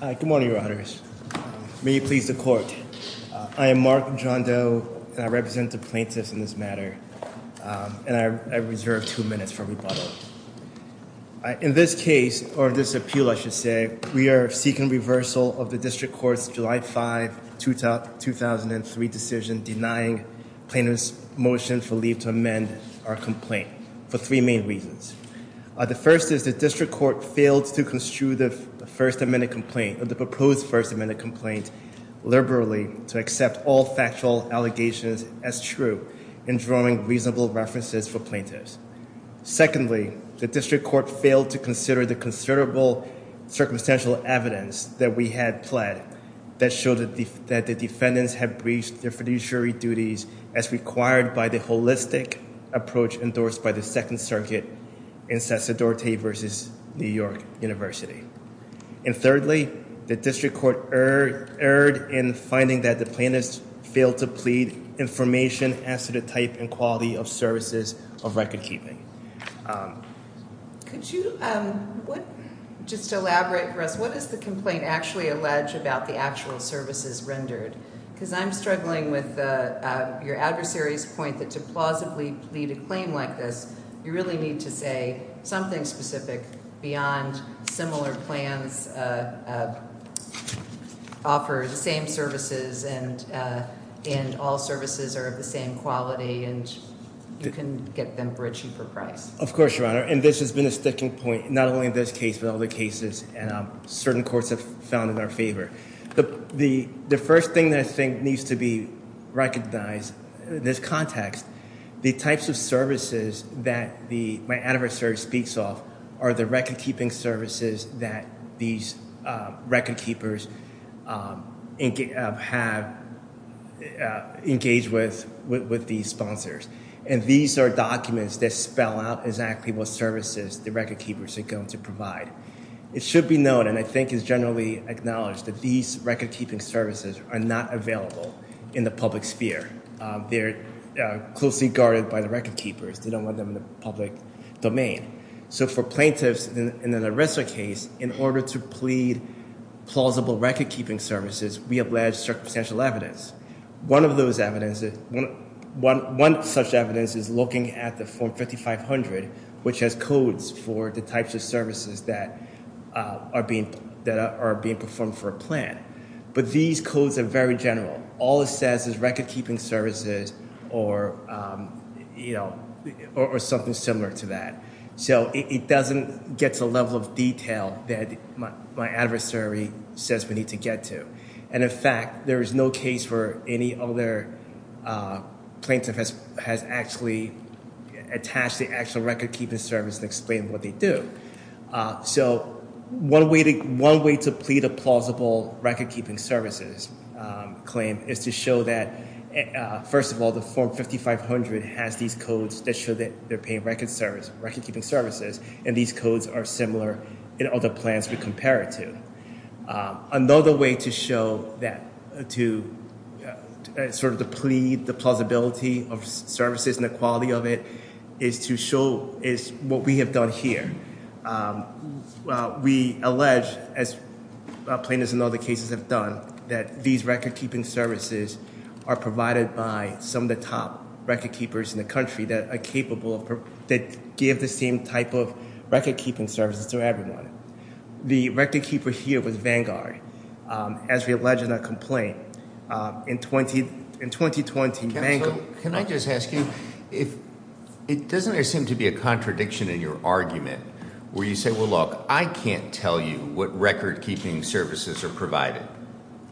Good morning, your honors. May you please the court. I am Mark John Doe, and I represent the plaintiffs in this matter, and I reserve two minutes for rebuttal. In this case, or this appeal, I should say, we are seeking reversal of the District Court's July 5, 2003 decision denying plaintiffs' motion for leave to amend our complaint for three main reasons. The first is the District Court failed to construe the first amendment complaint, or the proposed first amendment complaint, liberally to accept all factual allegations as true in drawing reasonable references for plaintiffs. Secondly, the District Court failed to consider the considerable circumstantial evidence that we had pled that showed that the defendants had breached their fiduciary duties as required by the holistic approach endorsed by the Second Circuit in Cesar Dorte v. New York University. And thirdly, the District Court erred in finding that the plaintiffs failed to plead information as to the type and quality of services of record-keeping. Could you just elaborate for us, what does the complaint actually allege about the actual services rendered? Because I'm struggling with your adversary's point that to plausibly plead a claim like this, you really need to say something specific beyond similar plans, offer the same services, and all services are of the same quality, and you can get them breached for price. Of course, Your Honor, and this has been a sticking point, not only in this case but in other cases, and certain courts have found in our favor. The first thing that I think needs to be recognized in this context, the types of services that my adversary speaks of are the record-keeping services that these record-keepers have engaged with these sponsors. And these are documents that spell out exactly what services the record-keepers are going to provide. It should be known, and I think is generally acknowledged, that these record-keeping services are not available in the public sphere. They're closely guarded by the record-keepers. They don't want them in the public domain. So for plaintiffs in an arrestor case, in order to plead plausible record-keeping services, we have led circumstantial evidence. One of those evidence, one such evidence is looking at the Form 5500, which has codes for the record-keeping services that are being performed for a plan. But these codes are very general. All it says is record-keeping services or something similar to that. So it doesn't get to the level of detail that my adversary says we need to get to. And in fact, there is no case where any other plaintiff has actually attached the actual record-keeping service and explain what they do. So one way to plead a plausible record-keeping services claim is to show that, first of all, the Form 5500 has these codes that show that they're paying record-keeping services, and these codes are similar in other plans we compare it to. Another way to show that, to sort of plead the plausibility of services and the quality of it, is to show is what we have done here. We allege, as plaintiffs in other cases have done, that these record-keeping services are provided by some of the top record-keepers in the country that are capable of, that give the same type of record-keeping services to everyone. The record-keeper here was Vanguard, as we allege in our complaint. In 2020, Vanguard Can I just ask you, doesn't there seem to be a contradiction in your argument where you say, well, look, I can't tell you what record-keeping services are provided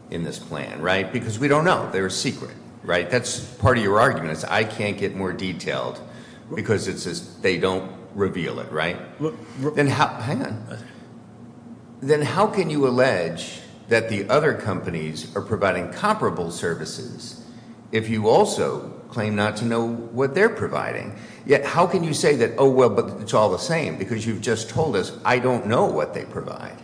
in this plan, right? Because we don't know. They're a secret, right? That's part of your argument. I can't get more detailed because they don't reveal it, right? Hang on. Then how can you also claim not to know what they're providing? Yet, how can you say that, oh, well, but it's all the same because you've just told us I don't know what they provide.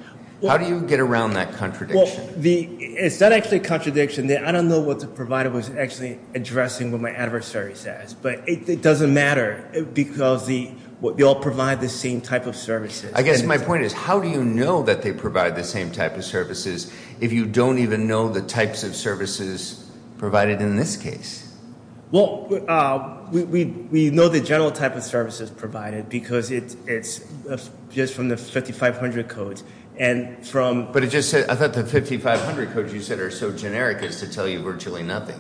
How do you get around that contradiction? Is that actually a contradiction? I don't know what the provider was actually addressing what my adversary says, but it doesn't matter because they all provide the same type of services. I guess my point is, how do you know that they provide the same type of services if you don't even know the types of services provided in this case? Well, we know the general type of services provided because it's just from the 5500 codes. But it just said, I thought the 5500 codes you said are so generic as to tell you virtually nothing.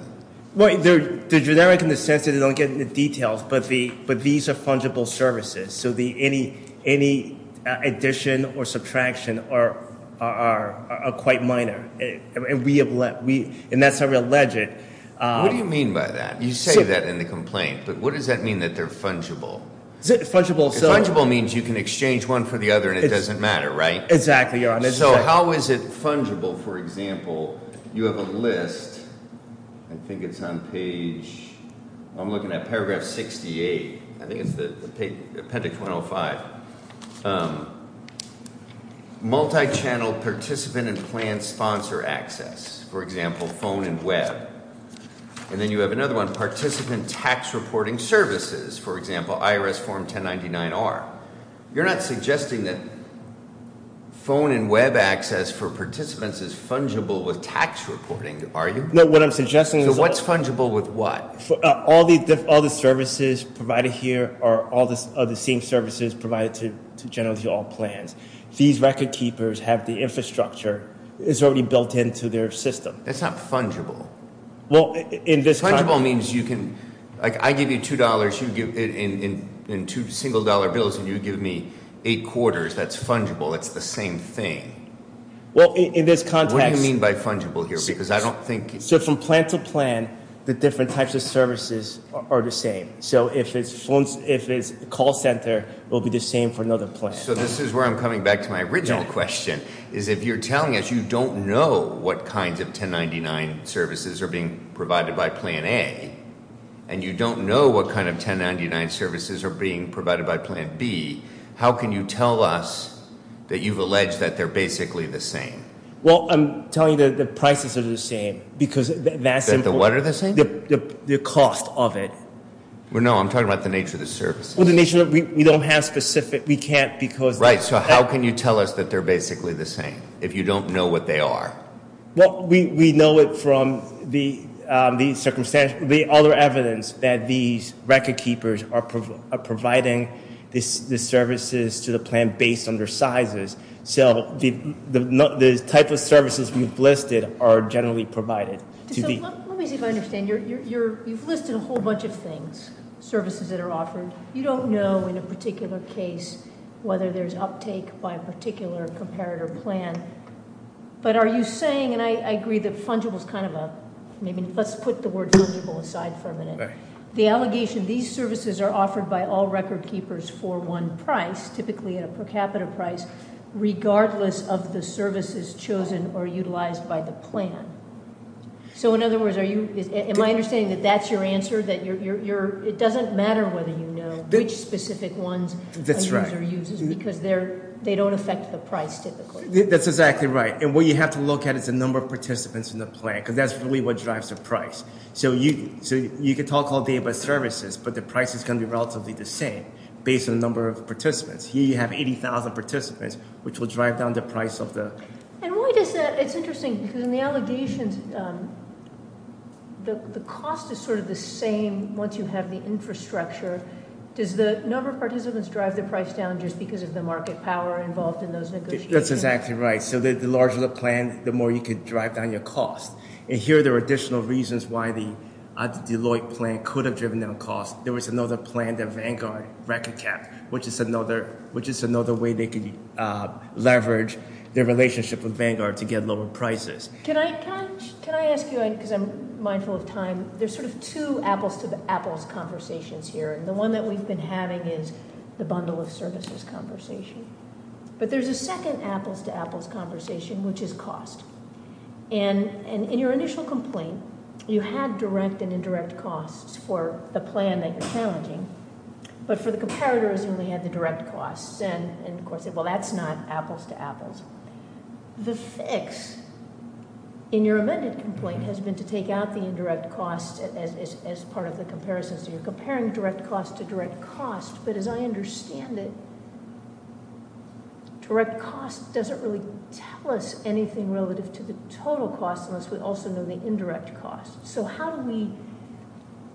Well, they're generic in the sense that they don't get into details, but these are fungible services, so any addition or subtraction are quite minor, and that's how you would allege it. What do you mean by that? You say that in the complaint, but what does that mean that they're fungible? Fungible means you can exchange one for the other and it doesn't matter, right? Exactly. So how is it fungible, for example, you have a list, I think it's on page, I'm looking at paragraph 68, I think it's the appendix 105, multi-channel participant and plan sponsor access, for example, phone and web. And then you have another one, participant tax reporting services, for example, IRS Form 1099-R. You're not suggesting that phone and web access for participants is fungible with tax reporting, are you? No, what I'm suggesting is... So what's fungible with what? All the services provided here are all the same services provided to generally all plans. These record keepers have the infrastructure that's already built into their system. That's not fungible. Well, in this context... Fungible means you can, like I give you two dollars in two single dollar bills and you give me eight quarters, that's fungible, that's the same thing. Well, in this context... What do you mean by fungible here, because I don't think... So from plan to plan, the different call center will be the same for another plan. So this is where I'm coming back to my original question, is if you're telling us you don't know what kinds of 1099 services are being provided by plan A, and you don't know what kind of 1099 services are being provided by plan B, how can you tell us that you've alleged that they're basically the same? Well, I'm telling you that the prices are the same, because that's... That the what have specific... We can't because... Right, so how can you tell us that they're basically the same, if you don't know what they are? Well, we know it from the circumstance, the other evidence that these record keepers are providing the services to the plan based on their sizes. So the type of services we've listed are generally provided. Let me see if I understand. You've listed a whole bunch of things, services that are offered. You don't know in a particular case whether there's uptake by a particular comparator plan. But are you saying, and I agree that fungible is kind of a... Maybe let's put the word fungible aside for a minute. The allegation these services are offered by all record keepers for one price, typically at a per capita price, regardless of the services chosen or utilized by the plan. So in other words, are you... Am I understanding that that's your answer, that you're... It doesn't matter whether you know which specific ones a user uses, because they don't affect the price typically. That's exactly right. And what you have to look at is the number of participants in the plan, because that's really what drives the price. So you can talk all day about services, but the price is going to be relatively the same, based on the number of participants. Here you have 80,000 participants, which will drive down the price of the... And why does that... It's interesting, because in the allegations, the cost is sort of the same once you have the infrastructure. Does the number of participants drive the price down just because of the market power involved in those negotiations? That's exactly right. So the larger the plan, the more you could drive down your cost. And here there are additional reasons why the Deloitte plan could have driven down cost. There was another plan that Vanguard record kept, which is another way they could leverage their relationship with Vanguard to get lower prices. Can I ask you, because I'm mindful of time, there's sort of two apples-to-apples conversations here, and the one that we've been having is the bundle of services conversation. But there's a second apples-to-apples conversation, which is cost. And in your initial complaint, you had direct and indirect costs for the plan that you're challenging. But for the comparators, you only had the direct costs. And of course, well, that's not apples-to-apples. The fix in your amended complaint has been to take out the indirect costs as part of the comparisons. You're comparing direct costs to direct costs, but as I understand it, direct costs doesn't really tell us anything relative to the total costs unless we also know the indirect costs. So how do we,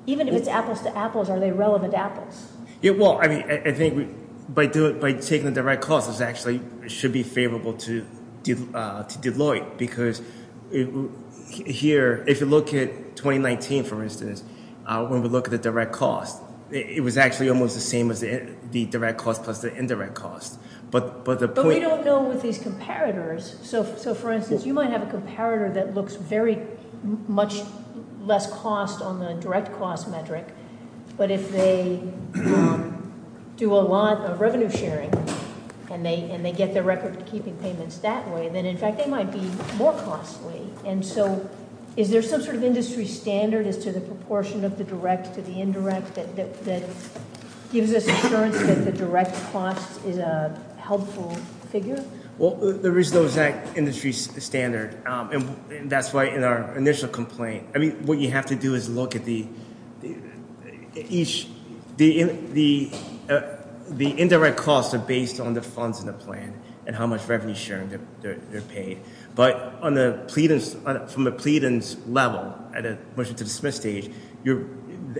even if it's apples-to-apples, are they relevant apples? Yeah, well, I mean, I think by taking the direct costs, it actually should be favorable to Deloitte, because here, if you look at 2019, for instance, when we look at the direct costs, it was actually almost the same as the direct costs plus the indirect costs. But we don't know with these comparators. So for instance, you might have a comparator that looks very much less cost on the direct cost metric. But if they do a lot of revenue sharing and they get their record keeping payments that way, then in fact, they might be more costly. And so is there some sort of industry standard as to the proportion of the direct to the indirect that gives us assurance that the direct cost is a helpful figure? Well, there is no exact industry standard. And that's why in our initial complaint, I mean, what you have to do is look at the indirect costs are based on the funds in the plan and how much revenue sharing they're paid. But from the pleadings level, at a submission to dismiss stage,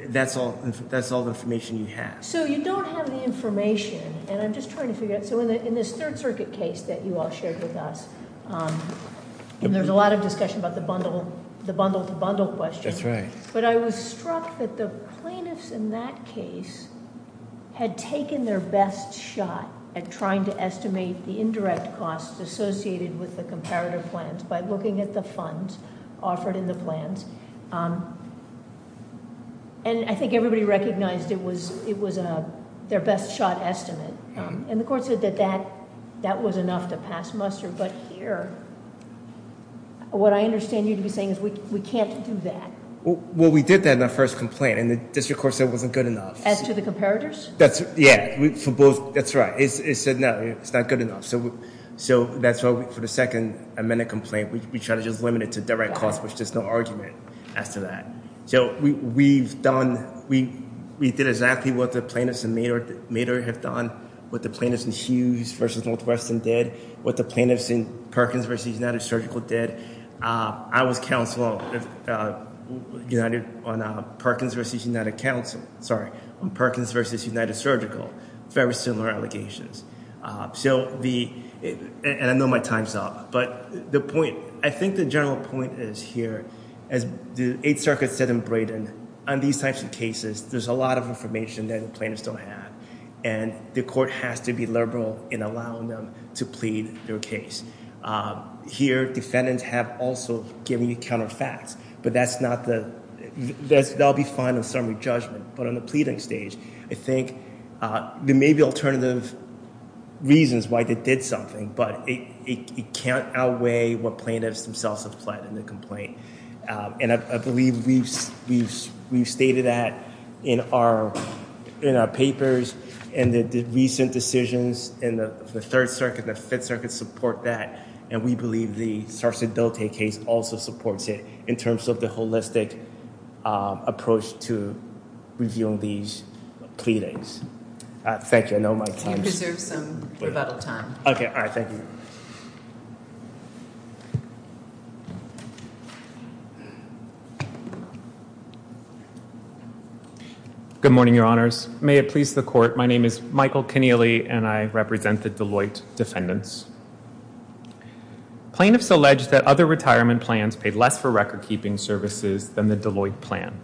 that's all the information you have. So you don't have the information. And I'm just trying to figure out, so in this Third Circuit case that you all shared with us, and there's a lot of discussion about the bundle to bundle question. That's right. But I was struck that the plaintiffs in that case had taken their best shot at trying to estimate the indirect costs associated with the comparator plans by looking at the funds offered in the plans. And I think everybody recognized it was their best shot estimate. And the court said that that was enough to pass muster. But here, what I understand you to be saying is we can't do that. Well, we did that in our first complaint. And the district court said it wasn't good enough. As to the comparators? Yeah. That's right. It said no, it's not good enough. So that's why for the second amendment complaint, we tried to just limit it to direct costs, which there's no argument as to that. So we've done, we did exactly what the plaintiffs in Mader have done, what the plaintiffs in Hughes v. Northwestern did, what the plaintiffs in Perkins v. United Surgical did. I was counsel on Perkins v. United Surgical. Very similar allegations. And I know my time's up, but the point, I think the general point is here, as the Eighth Circuit said in Braden, on these types of cases, there's a lot of information that the plaintiffs don't have. And the court has to be liberal in allowing them to plead their case. Here, defendants have also given you counter facts, but that's not the, they'll be fine on summary judgment. But on the pleading stage, I think there may be alternative reasons why they did something, but it can't outweigh what plaintiffs themselves have pled in the complaint. And I believe we've stated that in our papers and the recent decisions in the Third Circuit and the Fifth Circuit support that. And we believe the Sarcedote case also supports it in terms of the holistic approach to reviewing these pleadings. Thank you. I know my time's up. You deserve some rebuttal time. Okay. All right. Thank you. Good morning, Your Honors. May it please the court, my name is Michael Keneally and I record-keeping services than the Deloitte plan.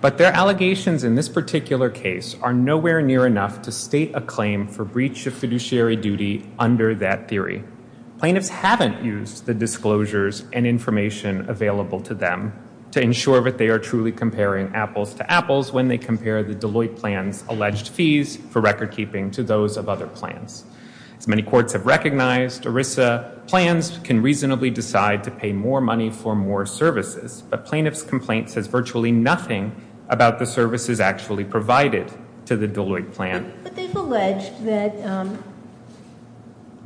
But their allegations in this particular case are nowhere near enough to state a claim for breach of fiduciary duty under that theory. Plaintiffs haven't used the disclosures and information available to them to ensure that they are truly comparing apples to apples when they compare the Deloitte plan's alleged fees for record-keeping to those of other plans. As many courts have recognized, ERISA plans can reasonably decide to pay more money for more services. But plaintiff's complaint says virtually nothing about the services actually provided to the Deloitte plan. But they've alleged that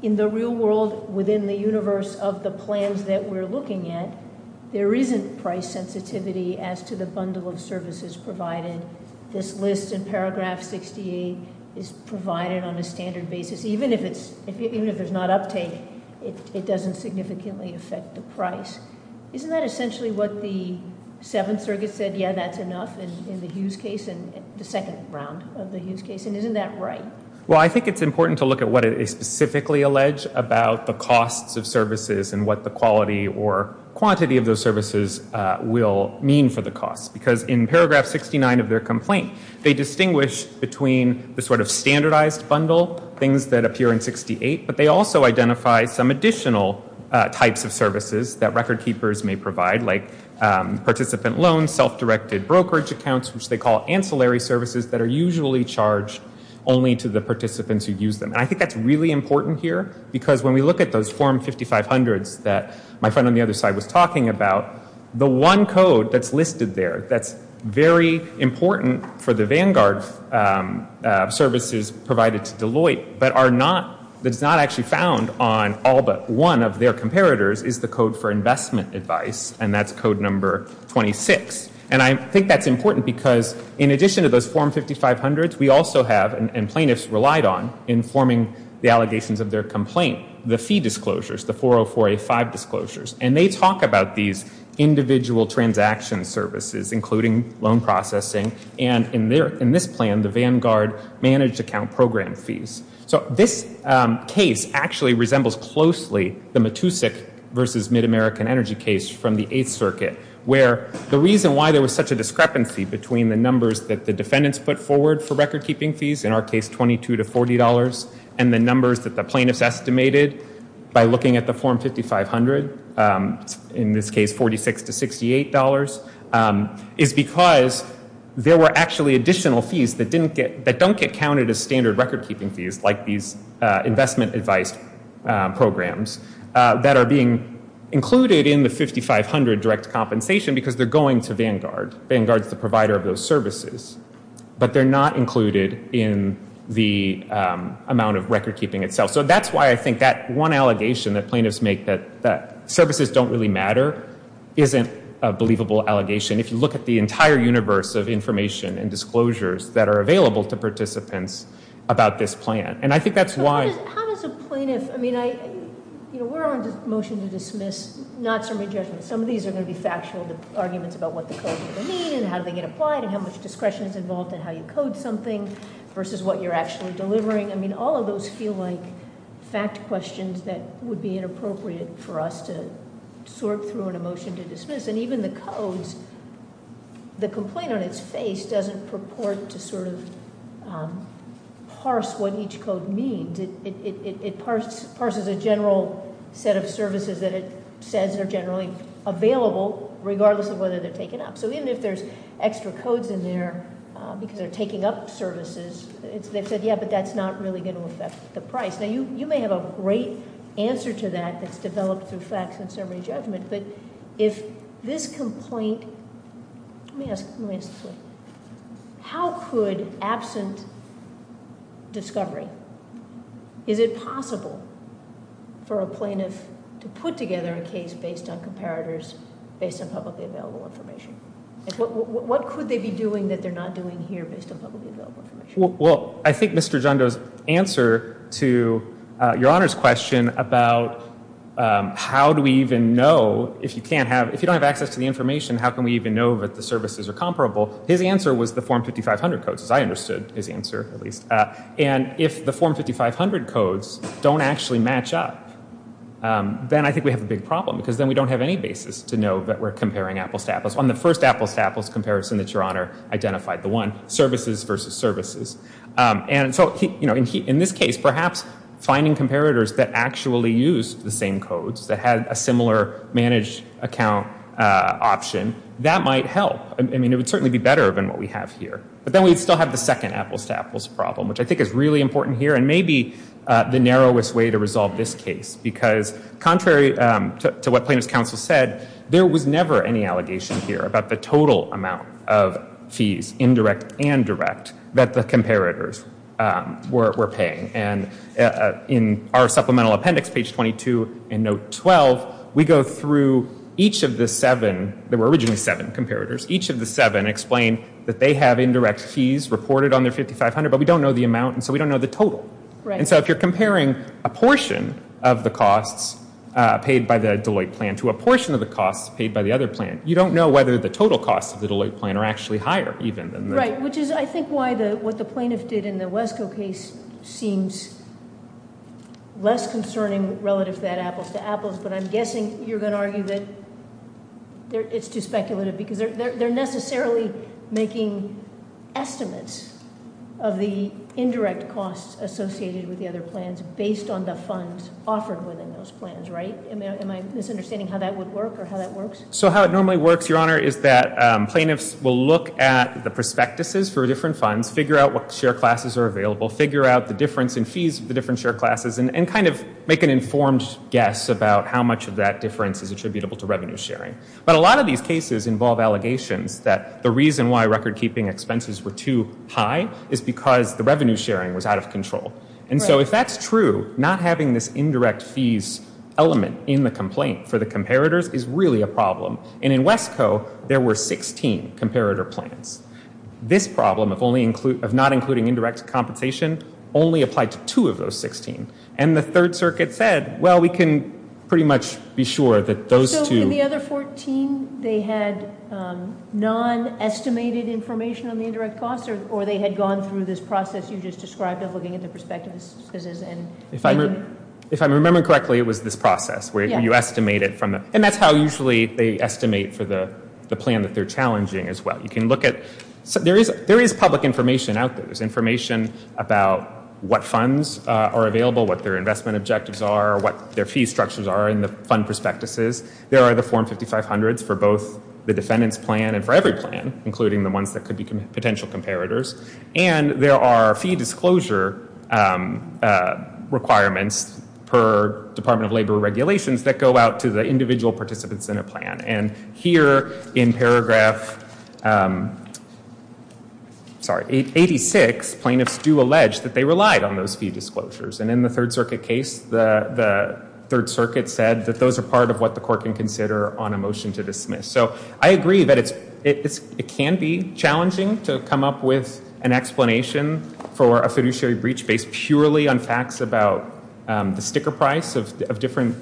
in the real world within the universe of the plans that we're looking at, there isn't price sensitivity as to the bundle of services provided. This doesn't significantly affect the price. Isn't that essentially what the Seventh Circuit said, yeah, that's enough in the Hughes case, in the second round of the Hughes case? And isn't that right? Well, I think it's important to look at what it specifically alleged about the costs of services and what the quality or quantity of those services will mean for the costs. Because in paragraph 69 of their complaint, they distinguish between the sort of standardized bundle, things that appear in 68, but they also identify some additional types of services that record-keepers may provide, like participant loans, self-directed brokerage accounts, which they call ancillary services that are usually charged only to the participants who use them. And I think that's really important here, because when we look at those Form 5500s that my friend on the other side was talking about, the one code that's listed there that's very important for the Vanguard services provided to Deloitte, but are not, that's not actually found on all but one of their comparators, is the code for investment advice, and that's code number 26. And I think that's important because in addition to those Form 5500s, we also have, and plaintiffs relied on in forming the allegations of their complaint, the fee disclosures, the 40485 disclosures. And they talk about these individual transaction services, including loan processing, and in this plan, the Vanguard managed account program fees. So this case actually resembles closely the Matusik versus MidAmerican Energy case from the Eighth Circuit, where the reason why there was such a discrepancy between the numbers that the defendants put forward for record-keeping fees, in our case, $22 to $40, and the numbers that the plaintiffs estimated by looking at the Form 5500, in this case, $46 to $68, is because there were actually additional fees that don't get counted as standard record-keeping fees, like these investment advice programs, that are being included in the 5500 direct compensation because they're going to Vanguard. Vanguard's the provider of those services, but they're not included in the amount of record-keeping itself. So that's why I think that one allegation that plaintiffs make, that services don't really matter, isn't a believable allegation. If you look at the entire universe of information and disclosures that are available to participants about this plan. And I think that's why... We're on a motion to dismiss, not summary judgment. Some of these are going to be factual arguments about what the codes are going to mean, and how do they get applied, and how much discretion is involved in how you code something, versus what you're actually delivering. All of those feel like fact questions that would be inappropriate for us to sort through in a motion to dismiss. And even the codes, the complaint on its face doesn't purport to sort of parse what each code means. It parses a general set of services that it says are generally available, regardless of whether they're taken up. So even if there's extra codes in there because they're taking up services, they've said, yeah, but that's not really going to affect the price. Now you may have a great answer to that that's developed through facts and summary judgment, but if this complaint... Let me ask this one. How could absent discovery... Is it possible for a plaintiff to put together a case based on comparators, based on publicly available information? What could they be doing that they're not doing here based on publicly available information? Well, I think Mr. Django's answer to Your Honor's question about how do we even know if you can't have... If you don't have access to the information, how can we even know that the services are comparable? His answer was the Form 5500 codes, as I understood his answer, at least. And if the Form 5500 codes don't actually match up, then I think we have a big problem, because then we don't have any basis to know that we're And so in this case, perhaps finding comparators that actually used the same codes, that had a similar managed account option, that might help. I mean, it would certainly be better than what we have here. But then we'd still have the second apples-to-apples problem, which I think is really important here and maybe the narrowest way to resolve this case, because contrary to what Plaintiff's Counsel said, there was never any allegation here about the total amount of fees, indirect and direct, that the comparators were paying. And in our Supplemental Appendix, page 22 in Note 12, we go through each of the seven. There were originally seven comparators. Each of the seven explained that they have indirect fees reported on their 5500, but we don't know the amount, and so we don't know the total. And so if you're comparing a portion of the costs paid by the Deloitte plan to a portion of the costs paid by the other plan, you don't know whether the total costs of the Deloitte plan are actually higher, even. Right, which is, I think, why what the Plaintiff did in the Wesco case seems less concerning relative to that apples-to-apples, but I'm guessing you're going to argue that it's too speculative, because they're necessarily making estimates of the indirect costs associated with the other plans based on the funds offered within those plans, right? Am I misunderstanding how that would work, or how that works? So how it normally works, Your Honor, is that plaintiffs will look at the prospectuses for different funds, figure out what share classes are available, figure out the difference in fees of the different share classes, and kind of make an informed guess about how much of that costs were actually higher than the other plans. And so if that's true, not having this indirect fees element in the complaint for the comparators is really a problem. And in Wesco, there were 16 comparator plans. This problem of not including indirect compensation only applied to two of those 16. And the Third Circuit said, well, we can pretty much be sure that those two- So in the other 14, they had non-estimated information on the indirect costs, or they had gone through this process you just described of looking at the prospectuses and- If I'm remembering correctly, it was this process, where you estimate it from, and that's how usually they estimate for the plan that they're challenging as well. You can look at, there is public information out there. There's information about what funds are available, what their investment objectives are, what their fee structures are in the fund prospectuses. There are the Form 5500s for both the defendant's plan and for every plan, including the ones that could be potential comparators. And there are fee disclosure requirements per Department of Labor regulations that go out to the individual participants in a plan. And here, in this case, they relied on those fee disclosures. And in the Third Circuit case, the Third Circuit said that those are part of what the court can consider on a motion to dismiss. So I agree that it can be challenging to come up with an explanation for a fiduciary breach based purely on facts about the sticker price of different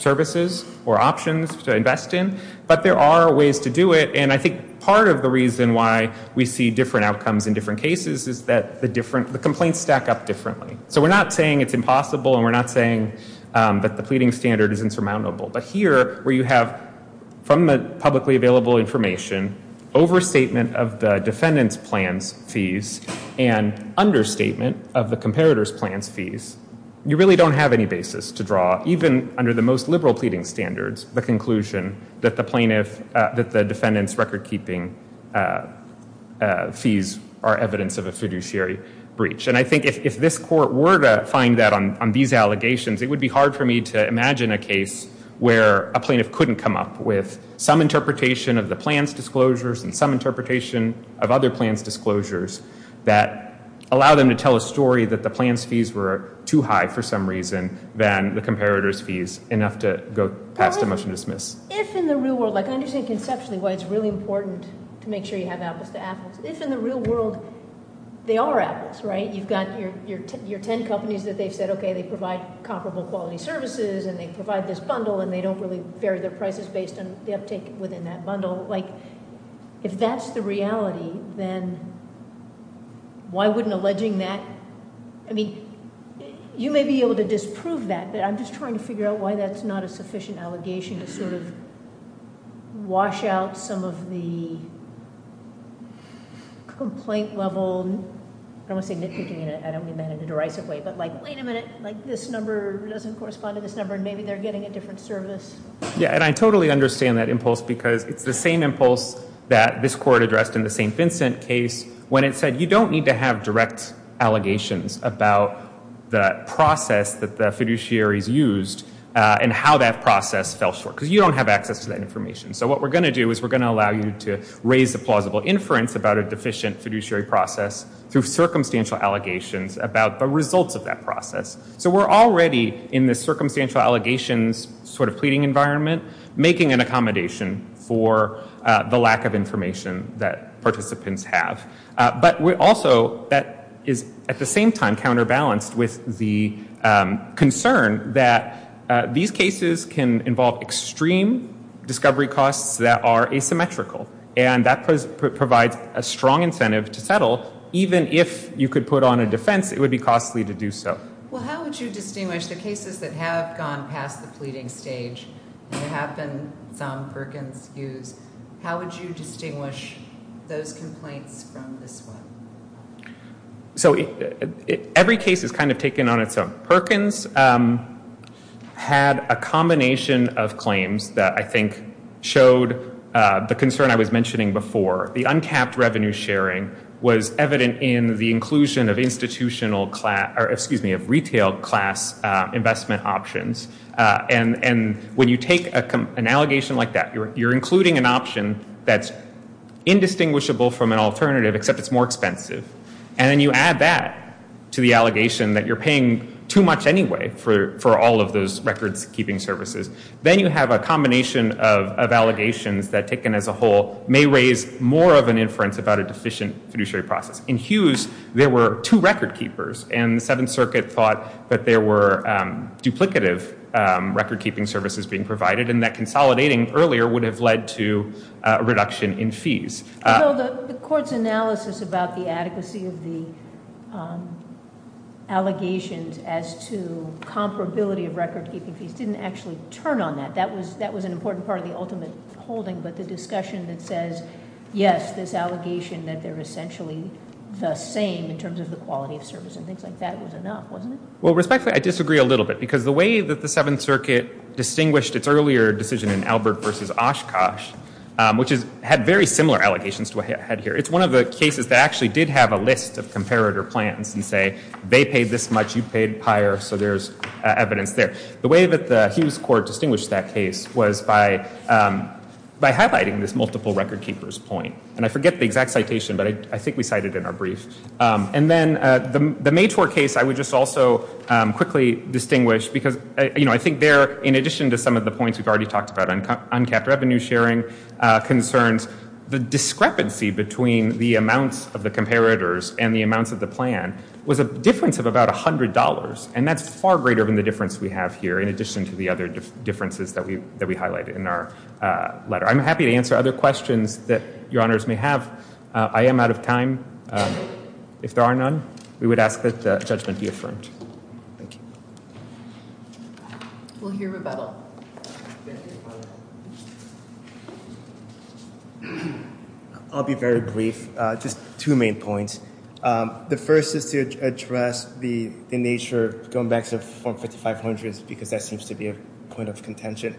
services or options to invest in. But there are ways to do it, and I think part of the reason why we see different outcomes in different cases is that the complaints stack up differently. So we're not saying it's impossible, and we're not saying that the pleading standard is insurmountable. But here, where you have, from the publicly available information, overstatement of the defendant's plan's fees and understatement of the comparator's plan's fees, you really don't have any basis to draw, even under the most liberal pleading standards, the conclusion that the plaintiff, that the defendant's recordkeeping fees are evidence of a fiduciary breach. And I think if this court were to find that on these allegations, it would be hard for me to imagine a case where a plaintiff couldn't come up with some interpretation of the plan's disclosures and some interpretation of other plans' disclosures that allow them to tell a story that the plan's fees were too high for some reason than the comparator's fees, enough to go past a motion to dismiss. If in the real world, like I understand conceptually why it's really important to make sure you have apples to apples. If in the real world, they are apples, right? You've got your ten companies that they've said, okay, they provide comparable quality services, and they provide this bundle, and they don't really vary their prices based on the uptake within that bundle. If that's the reality, then why wouldn't alleging that, I mean, you may be able to disprove that, but I'm just trying to figure out why that's not a sufficient allegation to sort of wash out some of the complaint level, I don't want to say nitpicking, I don't mean that in a derisive way, but like, wait a minute, this number doesn't correspond to this number, and maybe they're getting a different service. Yeah, and I totally understand that impulse, because it's the same impulse that this court addressed in the St. Vincent case when it said you don't need to have direct allegations about the process that the fiduciaries used, and how that process fell short, because you don't have access to that information. So what we're going to do is we're going to allow you to raise a plausible inference about a deficient fiduciary process through circumstantial allegations about the results of that process. So we're already in the circumstantial allegations sort of pleading environment making an accommodation for the lack of information that participants have. But also, that is at the same time counterbalanced with the concern that these cases can involve extreme discovery costs that are asymmetrical, and that provides a strong incentive to settle, even if you could put on a defense, it would be costly to do so. Well, how would you distinguish the cases that have gone past the pleading stage, and there have been some Perkins use, how would you distinguish those complaints from this one? So every case is kind of taken on its own. Perkins had a combination of claims that I think showed the concern I was mentioning before. The uncapped revenue sharing was evident in the inclusion of institutional class, or excuse me, of retail class investment options. And when you take an allegation like that, you're including an option that's indistinguishable from an alternative, except it's more expensive. And then you add that to the allegation that you're paying too much anyway for all of those records keeping services. Then you have a combination of allegations that taken as a whole may raise more of an inference about a deficient fiduciary process. In Hughes, there were two record keepers, and the 7th Circuit earlier would have led to a reduction in fees. The court's analysis about the adequacy of the allegations as to comparability of record keeping fees didn't actually turn on that. That was an important part of the ultimate holding, but the discussion that says yes, this allegation that they're essentially the same in terms of the quality of service and things like that was enough, wasn't it? Well, respectfully, I disagree a little bit, because the way that the 7th Circuit distinguished its earlier decision in Albert v. Oshkosh, which had very similar allegations to what I had here, it's one of the cases that actually did have a list of comparator plans and say, they paid this much, you paid higher, so there's evidence there. The way that the Hughes court distinguished that case was by highlighting this multiple record keepers point. And I forget the exact citation, but I think we cited it in our brief. And then the Maytor case, I would just also quickly distinguish, because I think there, in addition to some of the points we've already talked about, uncapped revenue sharing concerns, the discrepancy between the amounts of the comparators and the amounts of the plan was a difference of about $100, and that's far greater than the difference we have here, in addition to the other differences that we highlighted in our letter. I'm happy to answer other questions that your honors may have. I am out of time. If there are none, we would ask that judgment be affirmed. Thank you. We'll hear rebuttal. I'll be very brief. Just two main points. The first is to address the nature, going back to the form 5500s, because that seems to be a point of contention.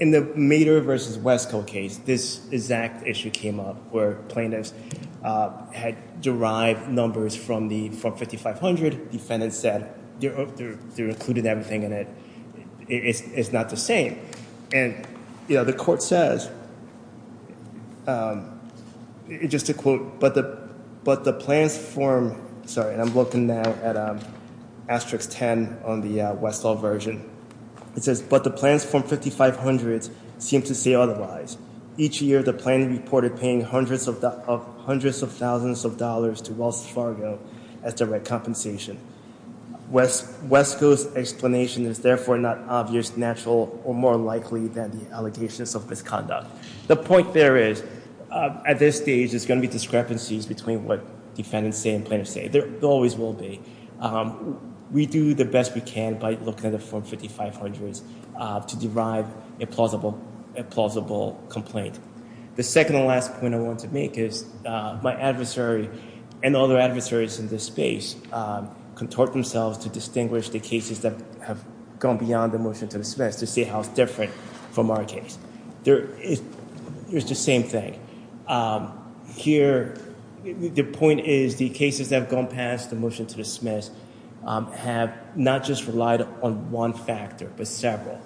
In the Maytor v. Wesco case, this exact issue came up where plaintiffs had derived numbers from the form 5500. Defendants said they included everything in it. It's not the same. The court says, just to quote, I'm looking now at Asterix 10 on the Westall version. It says, but the plans from 5500s seem to say otherwise. Each year the plan reported paying hundreds of dollars more likely than the allegations of misconduct. The point there is, at this stage, there's going to be discrepancies between what defendants say and plaintiffs say. There always will be. We do the best we can by looking at the form 5500s to derive a plausible complaint. The second and last point I want to make is, my adversary and other adversaries in this space contort themselves to distinguish the cases that have gone beyond the motion to dismiss to see how it's different from our case. It's the same thing. The point is, the cases that have gone past the motion to dismiss have not just relied on one factor, but several.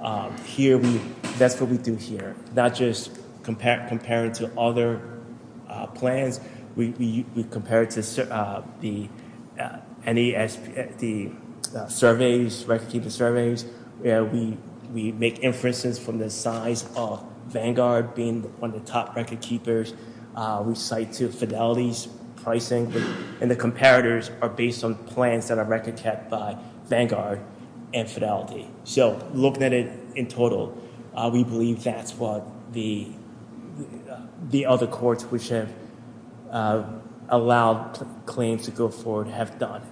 That's what we do here. Not just comparing to other plans. We compare it to any of the record keeping surveys. We make inferences from the size of Vanguard being one of the top record keepers. We cite Fidelity's pricing. The comparators are based on plans that are record kept by Vanguard and Fidelity. Looking at it in total, we believe that's what the other courts which have allowed claims to go forward have done.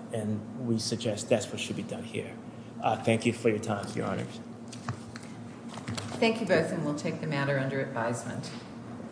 We suggest that's what should be done here. Thank you for your time, Your Honors. Thank you both and we'll take the matter under advisement.